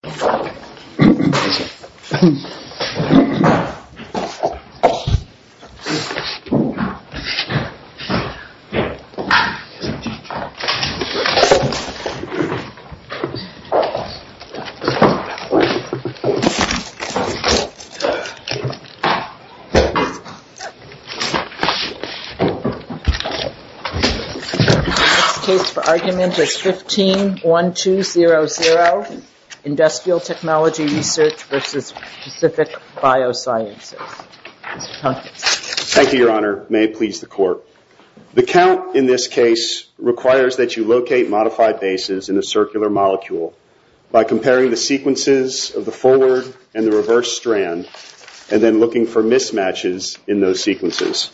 This case for argument is 15-1200, Industrial Technology Research v. Pacific Biosciences. Thank you, Your Honor. May it please the Court. The count in this case requires that you locate modified bases in a circular molecule by comparing the sequences of the forward and the reverse strand and then looking for mismatches in those sequences.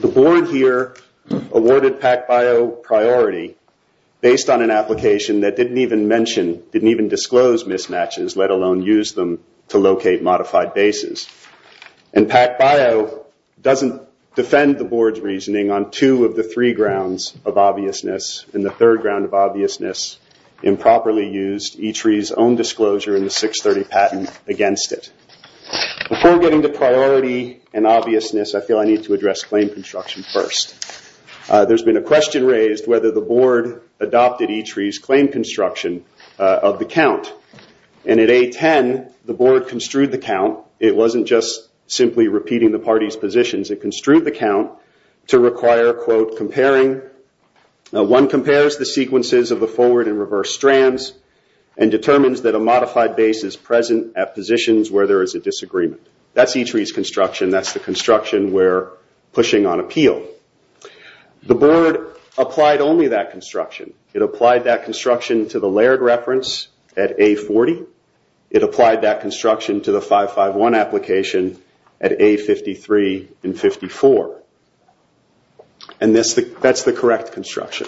The Board here awarded PACBio priority based on an application that didn't even mention, didn't even disclose mismatches, let alone use them to locate modified bases. And PACBio doesn't defend the Board's reasoning on two of the three grounds of obviousness and the third ground of obviousness improperly used E-Tree's own disclosure in the 630 patent against it. Before getting to priority and obviousness, I feel I need to address claim construction first. There's been a question raised whether the Board adopted E-Tree's claim construction of the count. And at A-10, the Board construed the count. It wasn't just simply repeating the parties' positions. It construed the count to require, quote, comparing. One compares the sequences of the forward and reverse strands and determines that a modified base is present at positions A-10. That's the construction we're pushing on appeal. The Board applied only that construction. It applied that construction to the layered reference at A-40. It applied that construction to the 551 application at A-53 and 54. And that's the correct construction.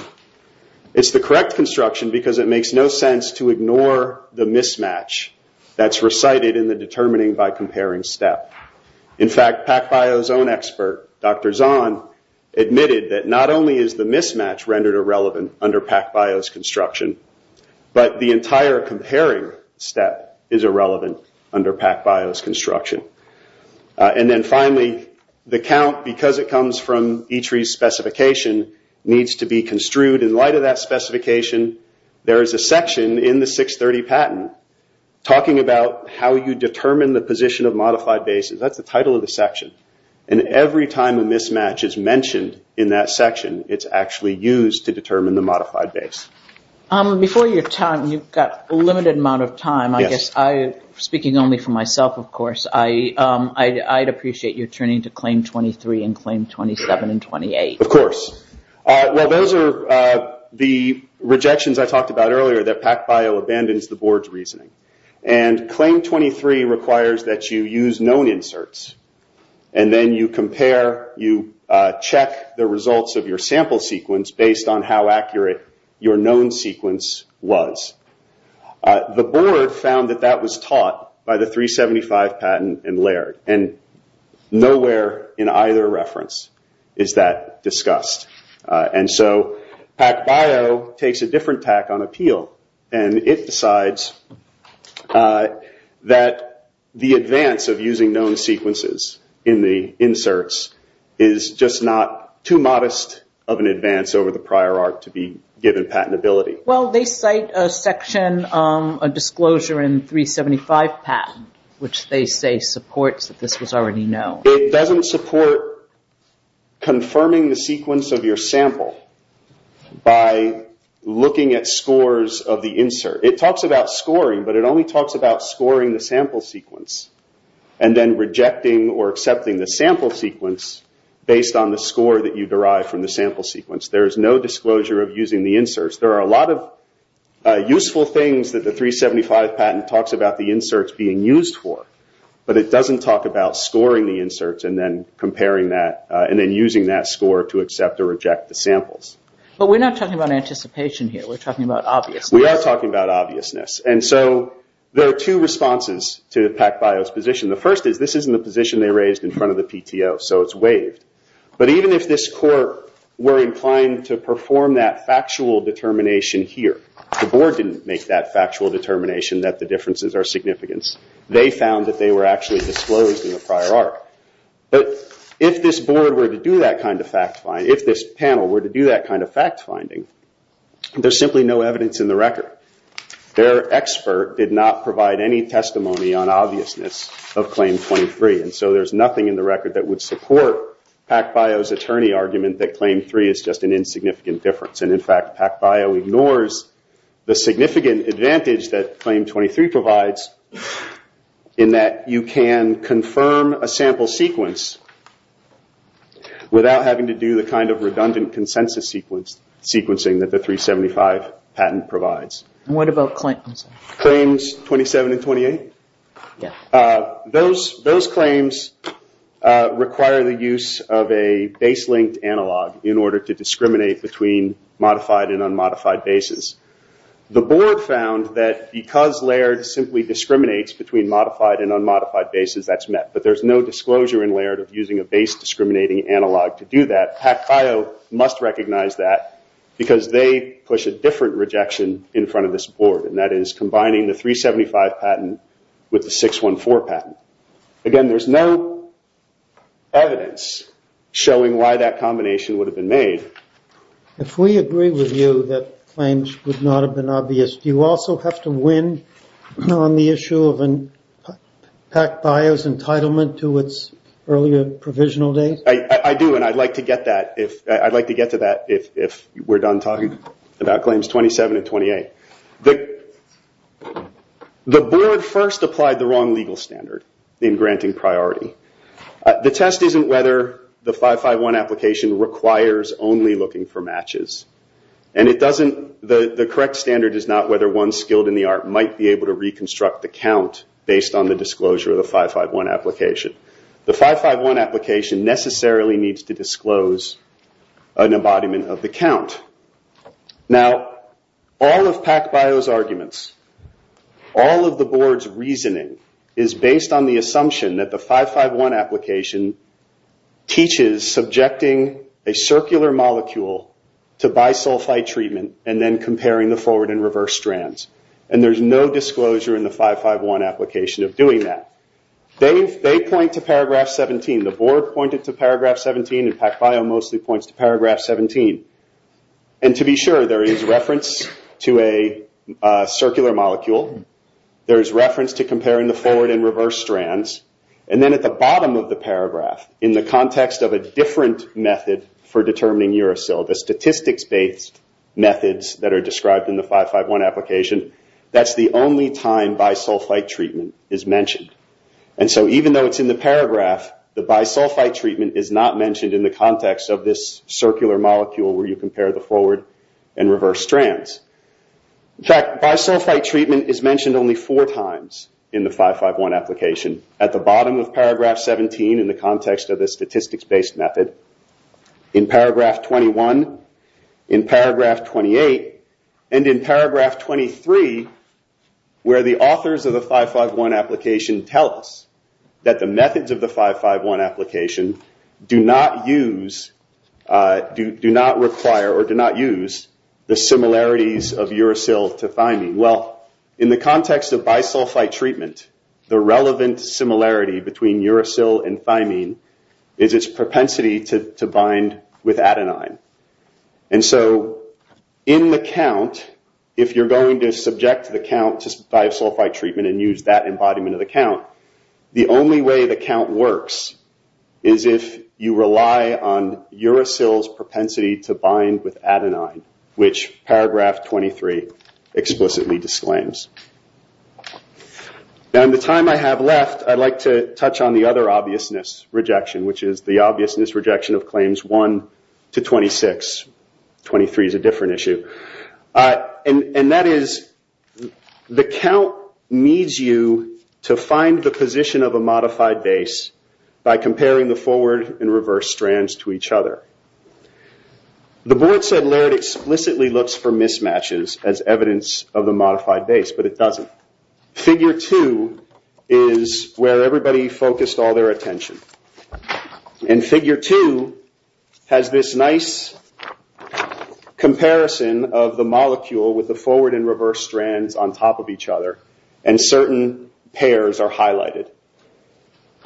It's the correct construction because it makes no sense to ignore the mismatch that's recited in the determining by comparing step. In fact, PacBio's own expert, Dr. Zahn, admitted that not only is the mismatch rendered irrelevant under PacBio's construction, but the entire comparing step is irrelevant under PacBio's construction. And then finally, the count, because it comes from E-Tree's specification, needs to be construed. In light of that specification, there is a section in the 630 patent talking about how you determine the position of modified bases. That's the title of the section. Every time a mismatch is mentioned in that section, it's actually used to determine the modified base. Before your time, you've got a limited amount of time. Speaking only for myself, of course, I'd appreciate your turning to Claim 23 and Claim 27 and 28. Of course. Well, those are the rejections I talked about earlier that PacBio abandons the board's reasoning. And Claim 23 requires that you use known inserts. And then you compare, you check the results of your sample sequence based on how accurate your known sequence was. The board found that that was taught by the 375 patent in Laird. And nowhere in either reference is that discussed. And so PacBio takes a different tack on appeal. And it decides that the advance of using known sequences in the inserts is just not too modest of an advance over the prior art to be given patentability. Well, they cite a section, a disclosure in 375 patent, which they say supports that this was already known. It doesn't support confirming the sequence of your sample by looking at scores of the insert. It talks about scoring, but it only talks about scoring the sample sequence and then rejecting or accepting the sample sequence based on the score that you derive from the sample sequence. There is no disclosure of using the inserts. There are a lot of useful things that the 375 patent talks about the inserts being used for, but it doesn't talk about scoring the inserts and then comparing that and then using that score to accept or reject the samples. But we're not talking about anticipation here, we're talking about obviousness. We are talking about obviousness. And so there are two responses to PacBio's position. The first is this isn't the position they raised in front of the PTO, so it's waived. But even if this court were inclined to perform that factual determination here, the board didn't make that factual determination that the differences are significant. They found that they were actually disclosed in the prior arc. But if this panel were to do that kind of fact finding, there's simply no evidence in the record. Their expert did not provide any testimony on obviousness of claim 23, and so there's no evidence to support PacBio's attorney argument that claim 3 is just an insignificant difference. In fact, PacBio ignores the significant advantage that claim 23 provides in that you can confirm a sample sequence without having to do the kind of redundant consensus sequencing that the 375 patent provides. What about claims 27 and 28? Those claims require the use of a base-linked analog in order to discriminate between modified and unmodified bases. The board found that because Laird simply discriminates between modified and unmodified bases, that's met. But there's no disclosure in Laird of using a base-discriminating analog to do that. PacBio must recognize that because they push a different rejection in front of this board, and that is combining the 375 patent with the 614 patent. Again, there's no evidence showing why that combination would have been made. If we agree with you that claims would not have been obvious, do you also have to win on the issue of PacBio's entitlement to its earlier provisional date? I do, and I'd like to get to that if we're done talking about claims 27 and 28. The board first applied the wrong legal standard in granting priority. The test isn't whether the 551 application requires only looking for matches. The correct standard is not whether one skilled in the art might be able to reconstruct the count based on the disclosure of the 551 application. The 551 application necessarily needs to disclose an embodiment of the count. Now, all of PacBio's arguments, all of the board's reasoning, is based on the assumption that the 551 application teaches subjecting a circular molecule to bisulfite treatment and then comparing the forward and reverse strands. There's no disclosure in the 551 application of doing that. They point to paragraph 17. The board pointed to paragraph 17, and PacBio mostly points to paragraph 17. To be sure, there is reference to a circular molecule. There is reference to comparing the forward and reverse strands, and then at the bottom of the paragraph, in the context of a different method for determining uracil, the statistics based methods that are described in the 551 application, that's the only time bisulfite treatment is mentioned. Even though it's in the paragraph, the bisulfite treatment is not mentioned in the context of this circular molecule where you compare the forward and reverse strands. In fact, bisulfite treatment is mentioned only four times in the 551 application. At the bottom of paragraph 17, in the context of the statistics based method, in paragraph 21, in paragraph 28, and in paragraph 23, where the authors of the 551 application tell us that the methods of the 551 application do not use, do not require, or do not use the similarities of uracil to thymine. In the context of bisulfite treatment, the relevant similarity between uracil and thymine is its propensity to bind with adenine. In the count, if you're going to subject the count to bisulfite treatment and use that embodiment of the count, the only way the count works is if you rely on uracil's propensity to bind with adenine, which paragraph 23 explicitly disclaims. In the time I have left, I'd like to touch on the other obviousness rejection, which is the obviousness rejection of claims 1 to 26. 23 is a different issue. That is, the count needs you to find the position of a modified base by comparing the forward and reverse strands to each other. The board said Laird explicitly looks for mismatches as evidence of the modified base, but it doesn't. Figure 2 is where everybody focused all their attention. Figure 2 has this nice comparison of the molecule with the forward and reverse strands on top of each other, and certain pairs are highlighted.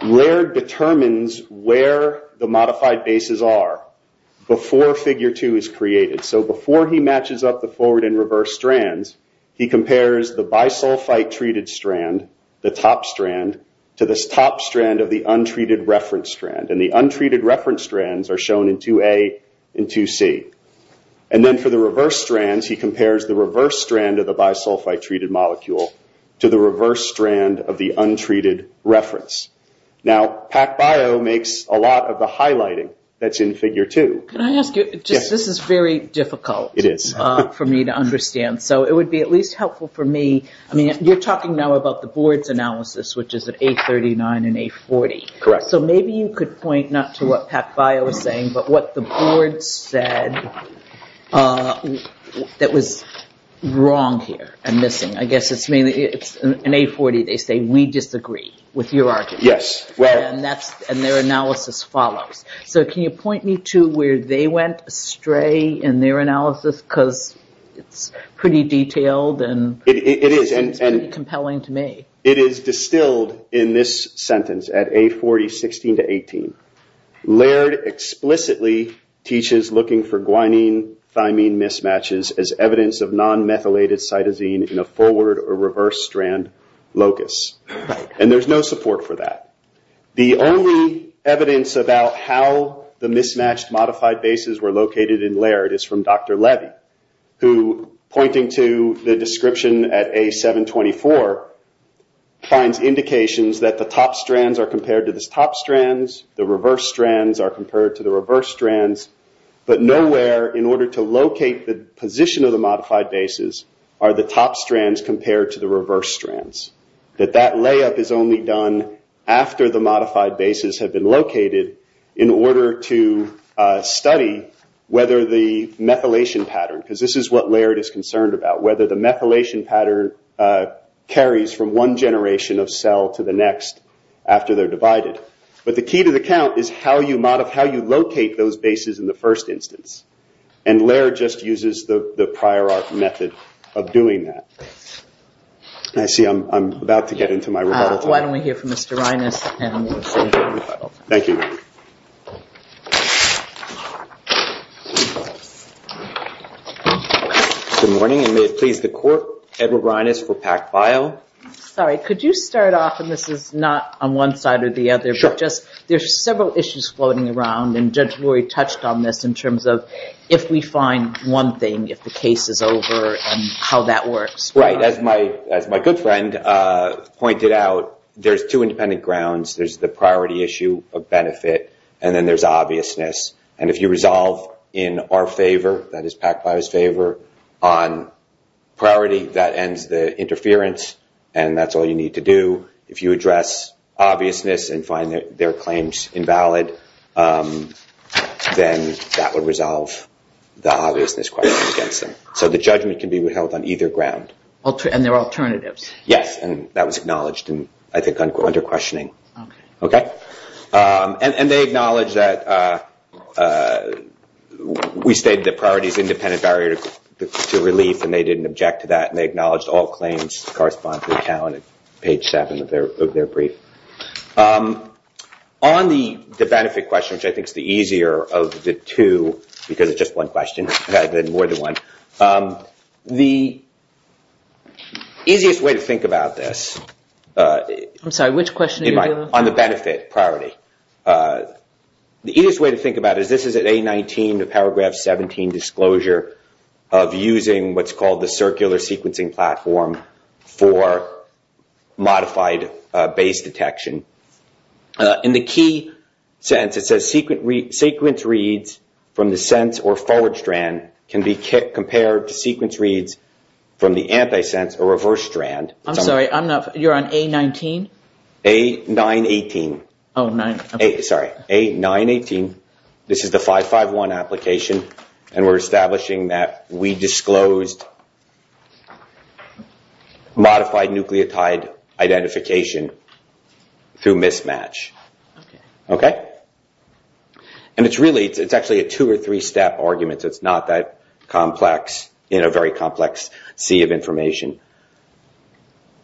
Laird determines where the modified bases are before figure 2 is created. Before he matches up the forward and reverse strands, he compares the bisulfite-treated strand, the top strand, to this top strand of the untreated reference strand. The untreated reference strands are shown in 2A and 2C. Then for the reverse strands, he compares the reverse strand of the bisulfite-treated molecule to the reverse strand of the untreated reference. PacBio makes a lot of the highlighting that's in figure 2. Can I ask you, this is very difficult for me to understand, so it would be at least helpful for me, you're talking now about the board's analysis, which is at 839 and 840, so maybe you could point not to what PacBio is saying, but what the board said that was wrong here and missing. I guess it's mainly, in 840 they say, we disagree with your argument, and their analysis follows. Can you point me to where they went astray in their analysis, because it's pretty detailed and compelling to me. It is distilled in this sentence, at 840, 16 to 18, Laird explicitly teaches looking for guanine-thymine mismatches as evidence of non-methylated cytosine in a forward or reverse strand locus, and there's no support for that. The only evidence about how the mismatched modified bases were located in Laird is from Dr. Levy, who, pointing to the description at A724, finds indications that the top strands are compared to the top strands, the reverse strands are compared to the reverse strands, but nowhere, in order to locate the position of the modified bases, are the top strands compared to the reverse strands. That layup is only done after the modified bases have been located in order to study whether the methylation pattern, because this is what Laird is concerned about, whether the methylation pattern carries from one generation of cell to the next after they're divided. The key to the count is how you locate those bases in the first instance, and Laird just uses the prior art method of doing that. I see I'm about to get into my rebuttal time. Why don't we hear from Mr. Reines and then we'll see who wants to rebuttal. Thank you. Good morning, and may it please the Court, Edward Reines for PAC-BIO. Sorry, could you start off, and this is not on one side or the other, but just, there's several issues floating around, and Judge Lurie touched on this in terms of if we find one thing, if the case is over, and how that works. As my good friend pointed out, there's two independent grounds. There's the priority issue of benefit, and then there's obviousness. If you resolve in our favor, that is PAC-BIO's favor, on priority, that ends the interference, and that's all you need to do. If you address obviousness and find their claims invalid, then that would resolve the obviousness question against them. So the judgment can be held on either ground. And there are alternatives. Yes, and that was acknowledged, and I think under questioning. And they acknowledge that we stated that priority is an independent barrier to relief, and they didn't object to that, and they acknowledged all claims correspond to the account at page seven of their brief. On the benefit question, which I think is the easier of the two, because it's just one question rather than more than one. The easiest way to think about this, on the benefit priority, the easiest way to think about it is this is an A19 to paragraph 17 disclosure of using what's called the circular sequencing platform for modified base detection. In the key sense, it says sequence reads from the sense or forward strand can be compared to sequence reads from the anti-sense or reverse strand. I'm sorry, I'm not, you're on A19? A918. Sorry, A918. This is the 551 application, and we're establishing that we disclosed modified nucleotide identification through mismatch. And it's really, it's actually a two or three step argument, so it's not that complex in a very complex sea of information.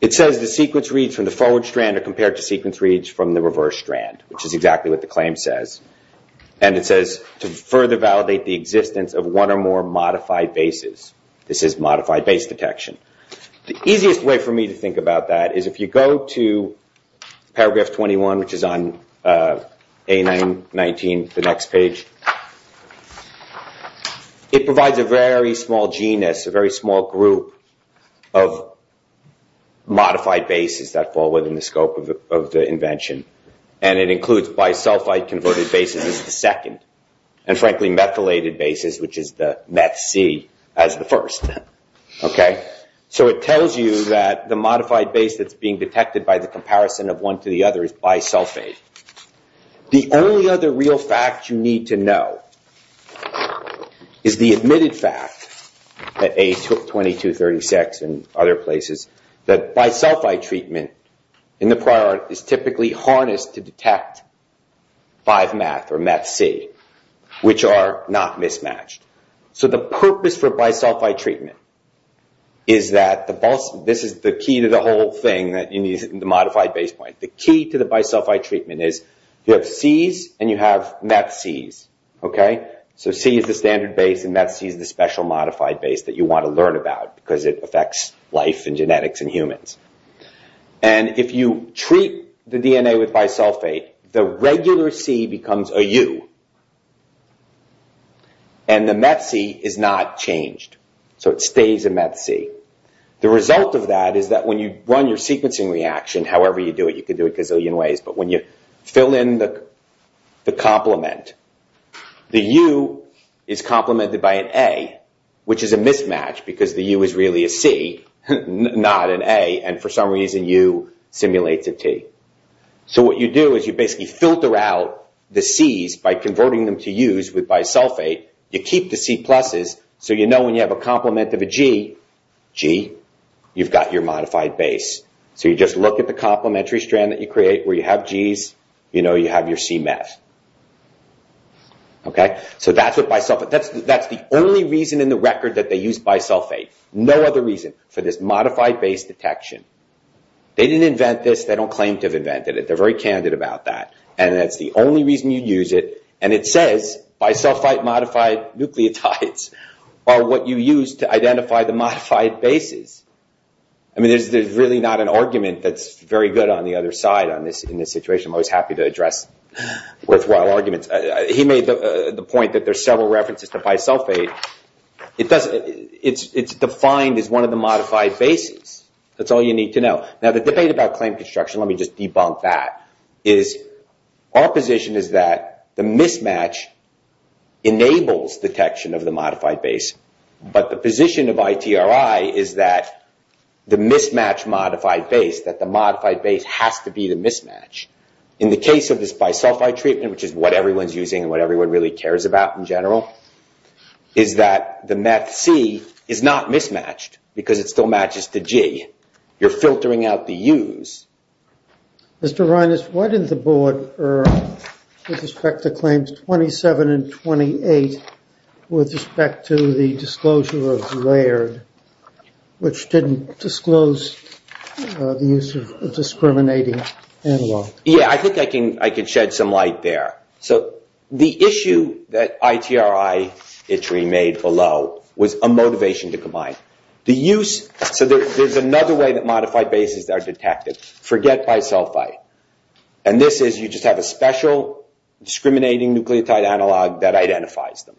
It says the sequence reads from the forward strand are compared to sequence reads from the reverse strand, which is exactly what the claim says. And it says to further validate the existence of one or more modified bases. This is modified base detection. The easiest way for me to think about that is if you go to paragraph 21, which is on A919, the next page, it provides a very small genus, a very small group of modified bases that fall within the scope of the invention. And it includes bisulfite converted bases as the second, and frankly methylated bases, which is the meth C as the first. So it tells you that the modified base that's being detected by the comparison of one to the other is bisulfate. The only other real fact you need to know is the admitted fact that A2236 and other places that bisulfite treatment in the prior is typically harnessed to detect 5-meth or 5-meth. So the purpose for bisulfite treatment is that this is the key to the whole thing that you need in the modified base point. The key to the bisulfite treatment is you have Cs and you have meth Cs. So C is the standard base and meth C is the special modified base that you want to learn about because it affects life and genetics and humans. And if you treat the DNA with bisulfate, the regular C becomes a U. And the meth C is not changed. So it stays a meth C. The result of that is that when you run your sequencing reaction, however you do it, you could do it a gazillion ways, but when you fill in the complement, the U is complemented by an A, which is a mismatch because the U is really a C, not an A, and for some reason U simulates a T. So what you do is you basically filter out the Cs by converting them to Us with bisulfate. You keep the C pluses so you know when you have a complement of a G, G, you've got your modified base. So you just look at the complementary strand that you create where you have Gs, you know you have your C meth. So that's the only reason in the record that they use bisulfate, no other reason for this modified base detection. They didn't invent this. They don't claim to have invented it. They're very candid about that. And that's the only reason you use it. And it says bisulfate modified nucleotides are what you use to identify the modified bases. I mean there's really not an argument that's very good on the other side in this situation. I'm always happy to address worthwhile arguments. He made the point that there's several references to bisulfate. It's defined as one of the modified bases. That's all you need to know. Now the debate about claim construction, let me just debunk that, is our position is that the mismatch enables detection of the modified base. But the position of ITRI is that the mismatch modified base, that the modified base has to be the mismatch. In the case of this bisulfite treatment, which is what everyone's using and what everyone really cares about in general, is that the meth C is not mismatched because it still matches the G. You're filtering out the U's. Mr. Reines, what did the board earn with respect to claims 27 and 28 with respect to the disclosure of layered, which didn't disclose the use of discriminating analog? Yeah, I think I can shed some light there. So the issue that ITRI made below was a motivation to combine. The use, so there's another way that modified bases are detected, forget bisulfite, and this is you just have a special discriminating nucleotide analog that identifies them.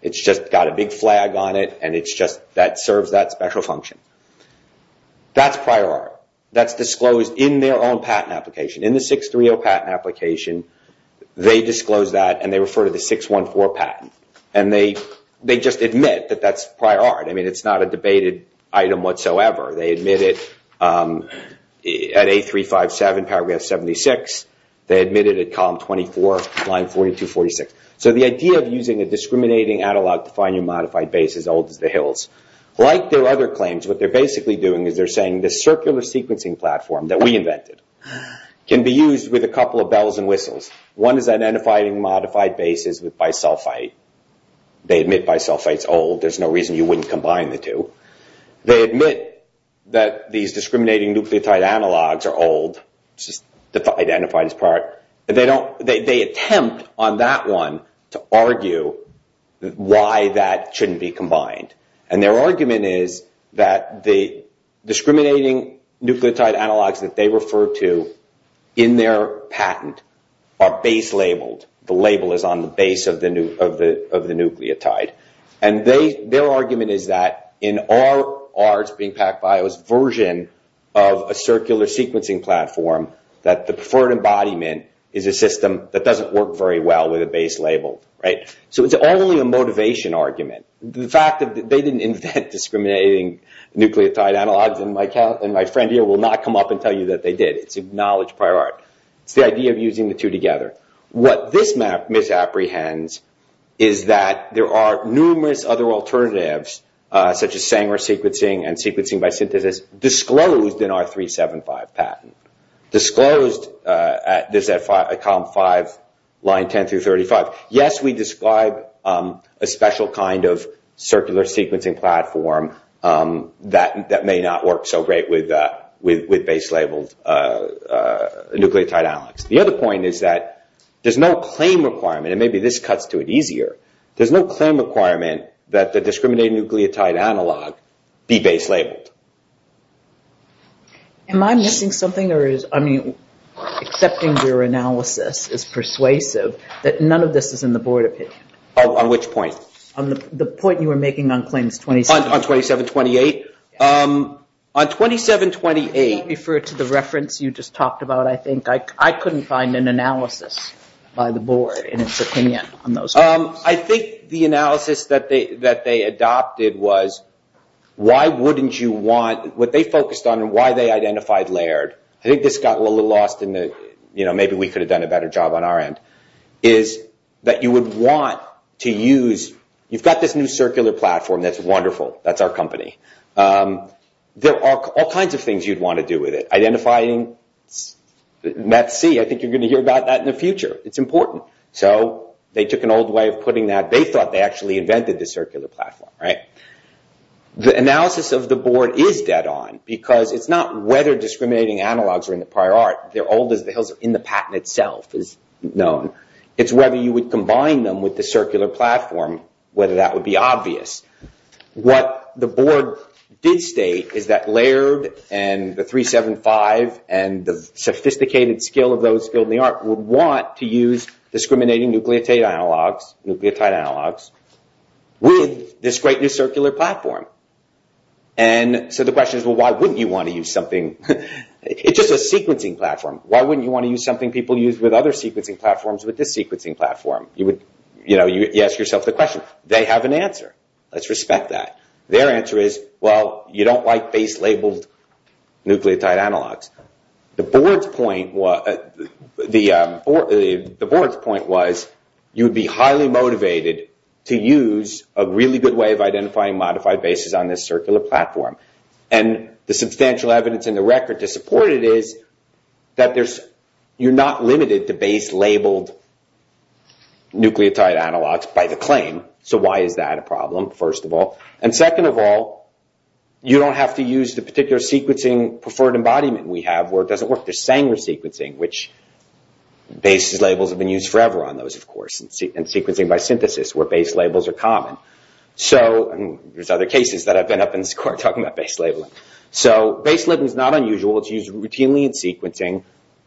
It's just got a big flag on it and it's just that serves that special function. That's prior art. That's disclosed in their own patent application. In the 630 patent application, they disclose that and they refer to the 614 patent. They just admit that that's prior art. It's not a debated item whatsoever. They admit it at 8357, paragraph 76. They admit it at column 24, line 4246. So the idea of using a discriminating analog to find your modified base is old as the hills. Like their other claims, what they're basically doing is they're saying the circular sequencing platform that we invented can be used with a couple of bells and whistles. One is identifying modified bases with bisulfite. They admit bisulfite's old. There's no reason you wouldn't combine the two. They admit that these discriminating nucleotide analogs are old, identified as prior. They attempt on that one to argue why that shouldn't be combined. Their argument is that the discriminating nucleotide analogs that they refer to in their patent are base labeled. The label is on the base of the nucleotide. Their argument is that in our, being PacBio's, version of a circular sequencing platform that the preferred embodiment is a system that doesn't work very well with a base label. So it's only a motivation argument. The fact that they didn't invent discriminating nucleotide analogs, and my friend here will not come up and tell you that they did. It's acknowledged prior art. It's the idea of using the two together. What this map misapprehends is that there are numerous other alternatives, such as Sanger sequencing and sequencing by synthesis, disclosed in our 375 patent. Disclosed at column 5, line 10 through 35. Yes, we describe a special kind of circular sequencing platform that may not work so great with base labeled nucleotide analogs. The other point is that there's no claim requirement, and maybe this cuts to it easier. There's no claim requirement that the discriminating nucleotide analog be base labeled. Am I missing something or is, I mean, accepting your analysis is persuasive, that none of this is in the board opinion? On which point? On the point you were making on claims 27-28. On 27-28? Yes. On 27-28. Does that refer to the reference you just talked about, I think? I couldn't find an analysis by the board in its opinion on those claims. I think the analysis that they adopted was, why wouldn't you want, what they focused on and why they identified Laird, I think this got a little lost in the, you know, maybe we could have done a better job on our end, is that you would want to use, you've got this new circular platform that's wonderful, that's our company, there are all kinds of things you'd want to do with it. Identifying METC, I think you're going to hear about that in the future, it's important. So they took an old way of putting that, they thought they actually invented the circular platform, right? The analysis of the board is dead on because it's not whether discriminating analogs are in the prior art, they're old as the hills in the patent itself is known. It's whether you would combine them with the circular platform, whether that would be obvious. What the board did state is that Laird and the 375 and the sophisticated skill of those in the art would want to use discriminating nucleotide analogs with this great new circular platform. And so the question is, well, why wouldn't you want to use something, it's just a sequencing platform, why wouldn't you want to use something people use with other sequencing platforms with this sequencing platform? You would, you know, you ask yourself the question. They have an answer, let's respect that. Their answer is, well, you don't like base labeled nucleotide analogs. The board's point was, you would be highly motivated to use a really good way of identifying modified bases on this circular platform. And the substantial evidence in the record to support it is that you're not limited to base labeled nucleotide analogs by the claim. So why is that a problem, first of all? And second of all, you don't have to use the particular sequencing preferred embodiment we have where it doesn't work. There's Sanger sequencing, which base labels have been used forever on those, of course, and sequencing by synthesis where base labels are common. So there's other cases that I've been up in the score talking about base labeling. So base labeling is not unusual, it's used routinely in sequencing.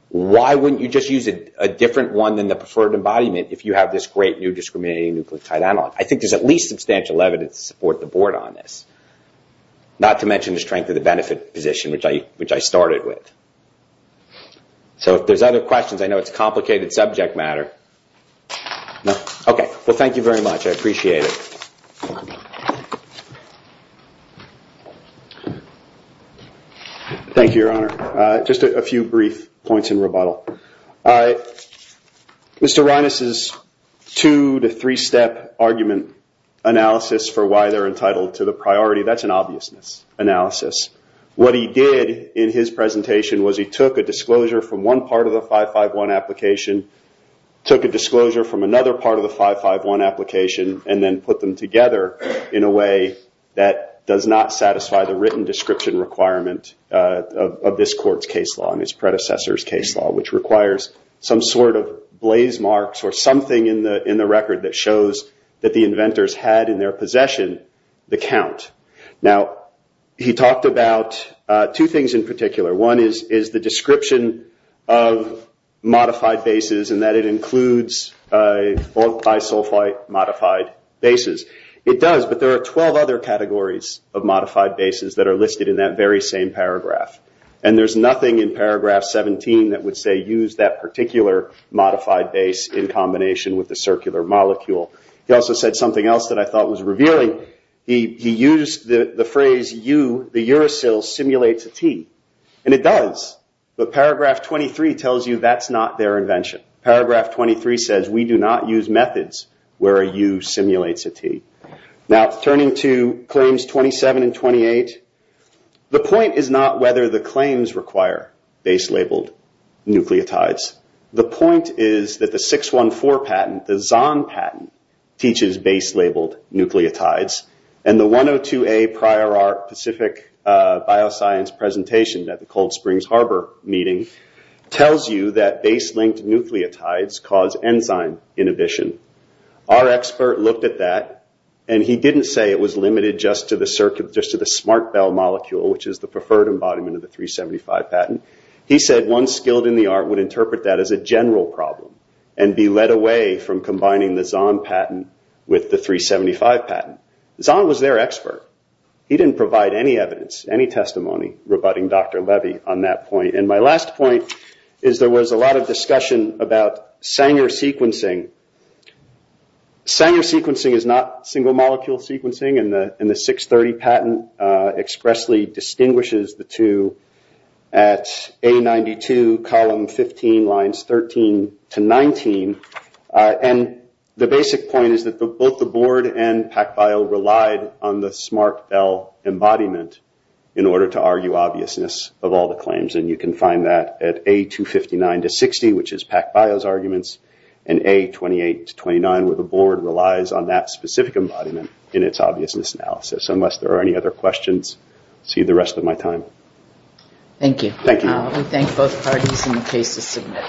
Why wouldn't you just use a different one than the preferred embodiment if you have this great new discriminating nucleotide analog? I think there's at least substantial evidence to support the board on this. Not to mention the strength of the benefit position, which I started with. So if there's other questions, I know it's complicated subject matter. No? OK. Well, thank you very much. I appreciate it. Thank you, Your Honor. Just a few brief points in rebuttal. Mr. Reines' two to three step argument analysis for why they're entitled to the priority, that's an obviousness analysis. What he did in his presentation was he took a disclosure from one part of the 551 application, took a disclosure from another part of the 551 application, and then put them together in a way that does not satisfy the written description requirement of this court's case law and its predecessor's case law, which requires some sort of blaze marks or something in the record that shows that the inventors had in their possession the count. Now he talked about two things in particular. One is the description of modified bases and that it includes bisulfite modified bases. It does, but there are 12 other categories of modified bases that are listed in that very same paragraph. And there's nothing in paragraph 17 that would say use that particular modified base in combination with the circular molecule. He also said something else that I thought was revealing. He used the phrase U, the uracil, simulates a T. And it does, but paragraph 23 tells you that's not their invention. Paragraph 23 says we do not use methods where a U simulates a T. Now turning to claims 27 and 28, the point is not whether the claims require base labeled nucleotides. The point is that the 614 patent, the Zahn patent, teaches base labeled nucleotides. And the 102A prior art Pacific Bioscience presentation at the Cold Springs Harbor meeting tells you that base linked nucleotides cause enzyme inhibition. Our expert looked at that and he didn't say it was limited just to the smart bell molecule, which is the preferred embodiment of the 375 patent. He said one skilled in the art would interpret that as a general problem and be led away from combining the Zahn patent with the 375 patent. Zahn was their expert. He didn't provide any evidence, any testimony rebutting Dr. Levy on that point. And my last point is there was a lot of discussion about Sanger sequencing. Sanger sequencing is not single molecule sequencing and the 630 patent expressly distinguishes the two at A92 column 15 lines 13 to 19. And the basic point is that both the board and PacBio relied on the smart bell embodiment in order to argue obviousness of all the claims. And you can find that at A259 to 60, which is PacBio's arguments, and A28 to 29 where the board relies on that specific embodiment in its obviousness analysis. Unless there are any other questions, I'll see you the rest of my time. Thank you. Thank you. We thank both parties and the case is submitted.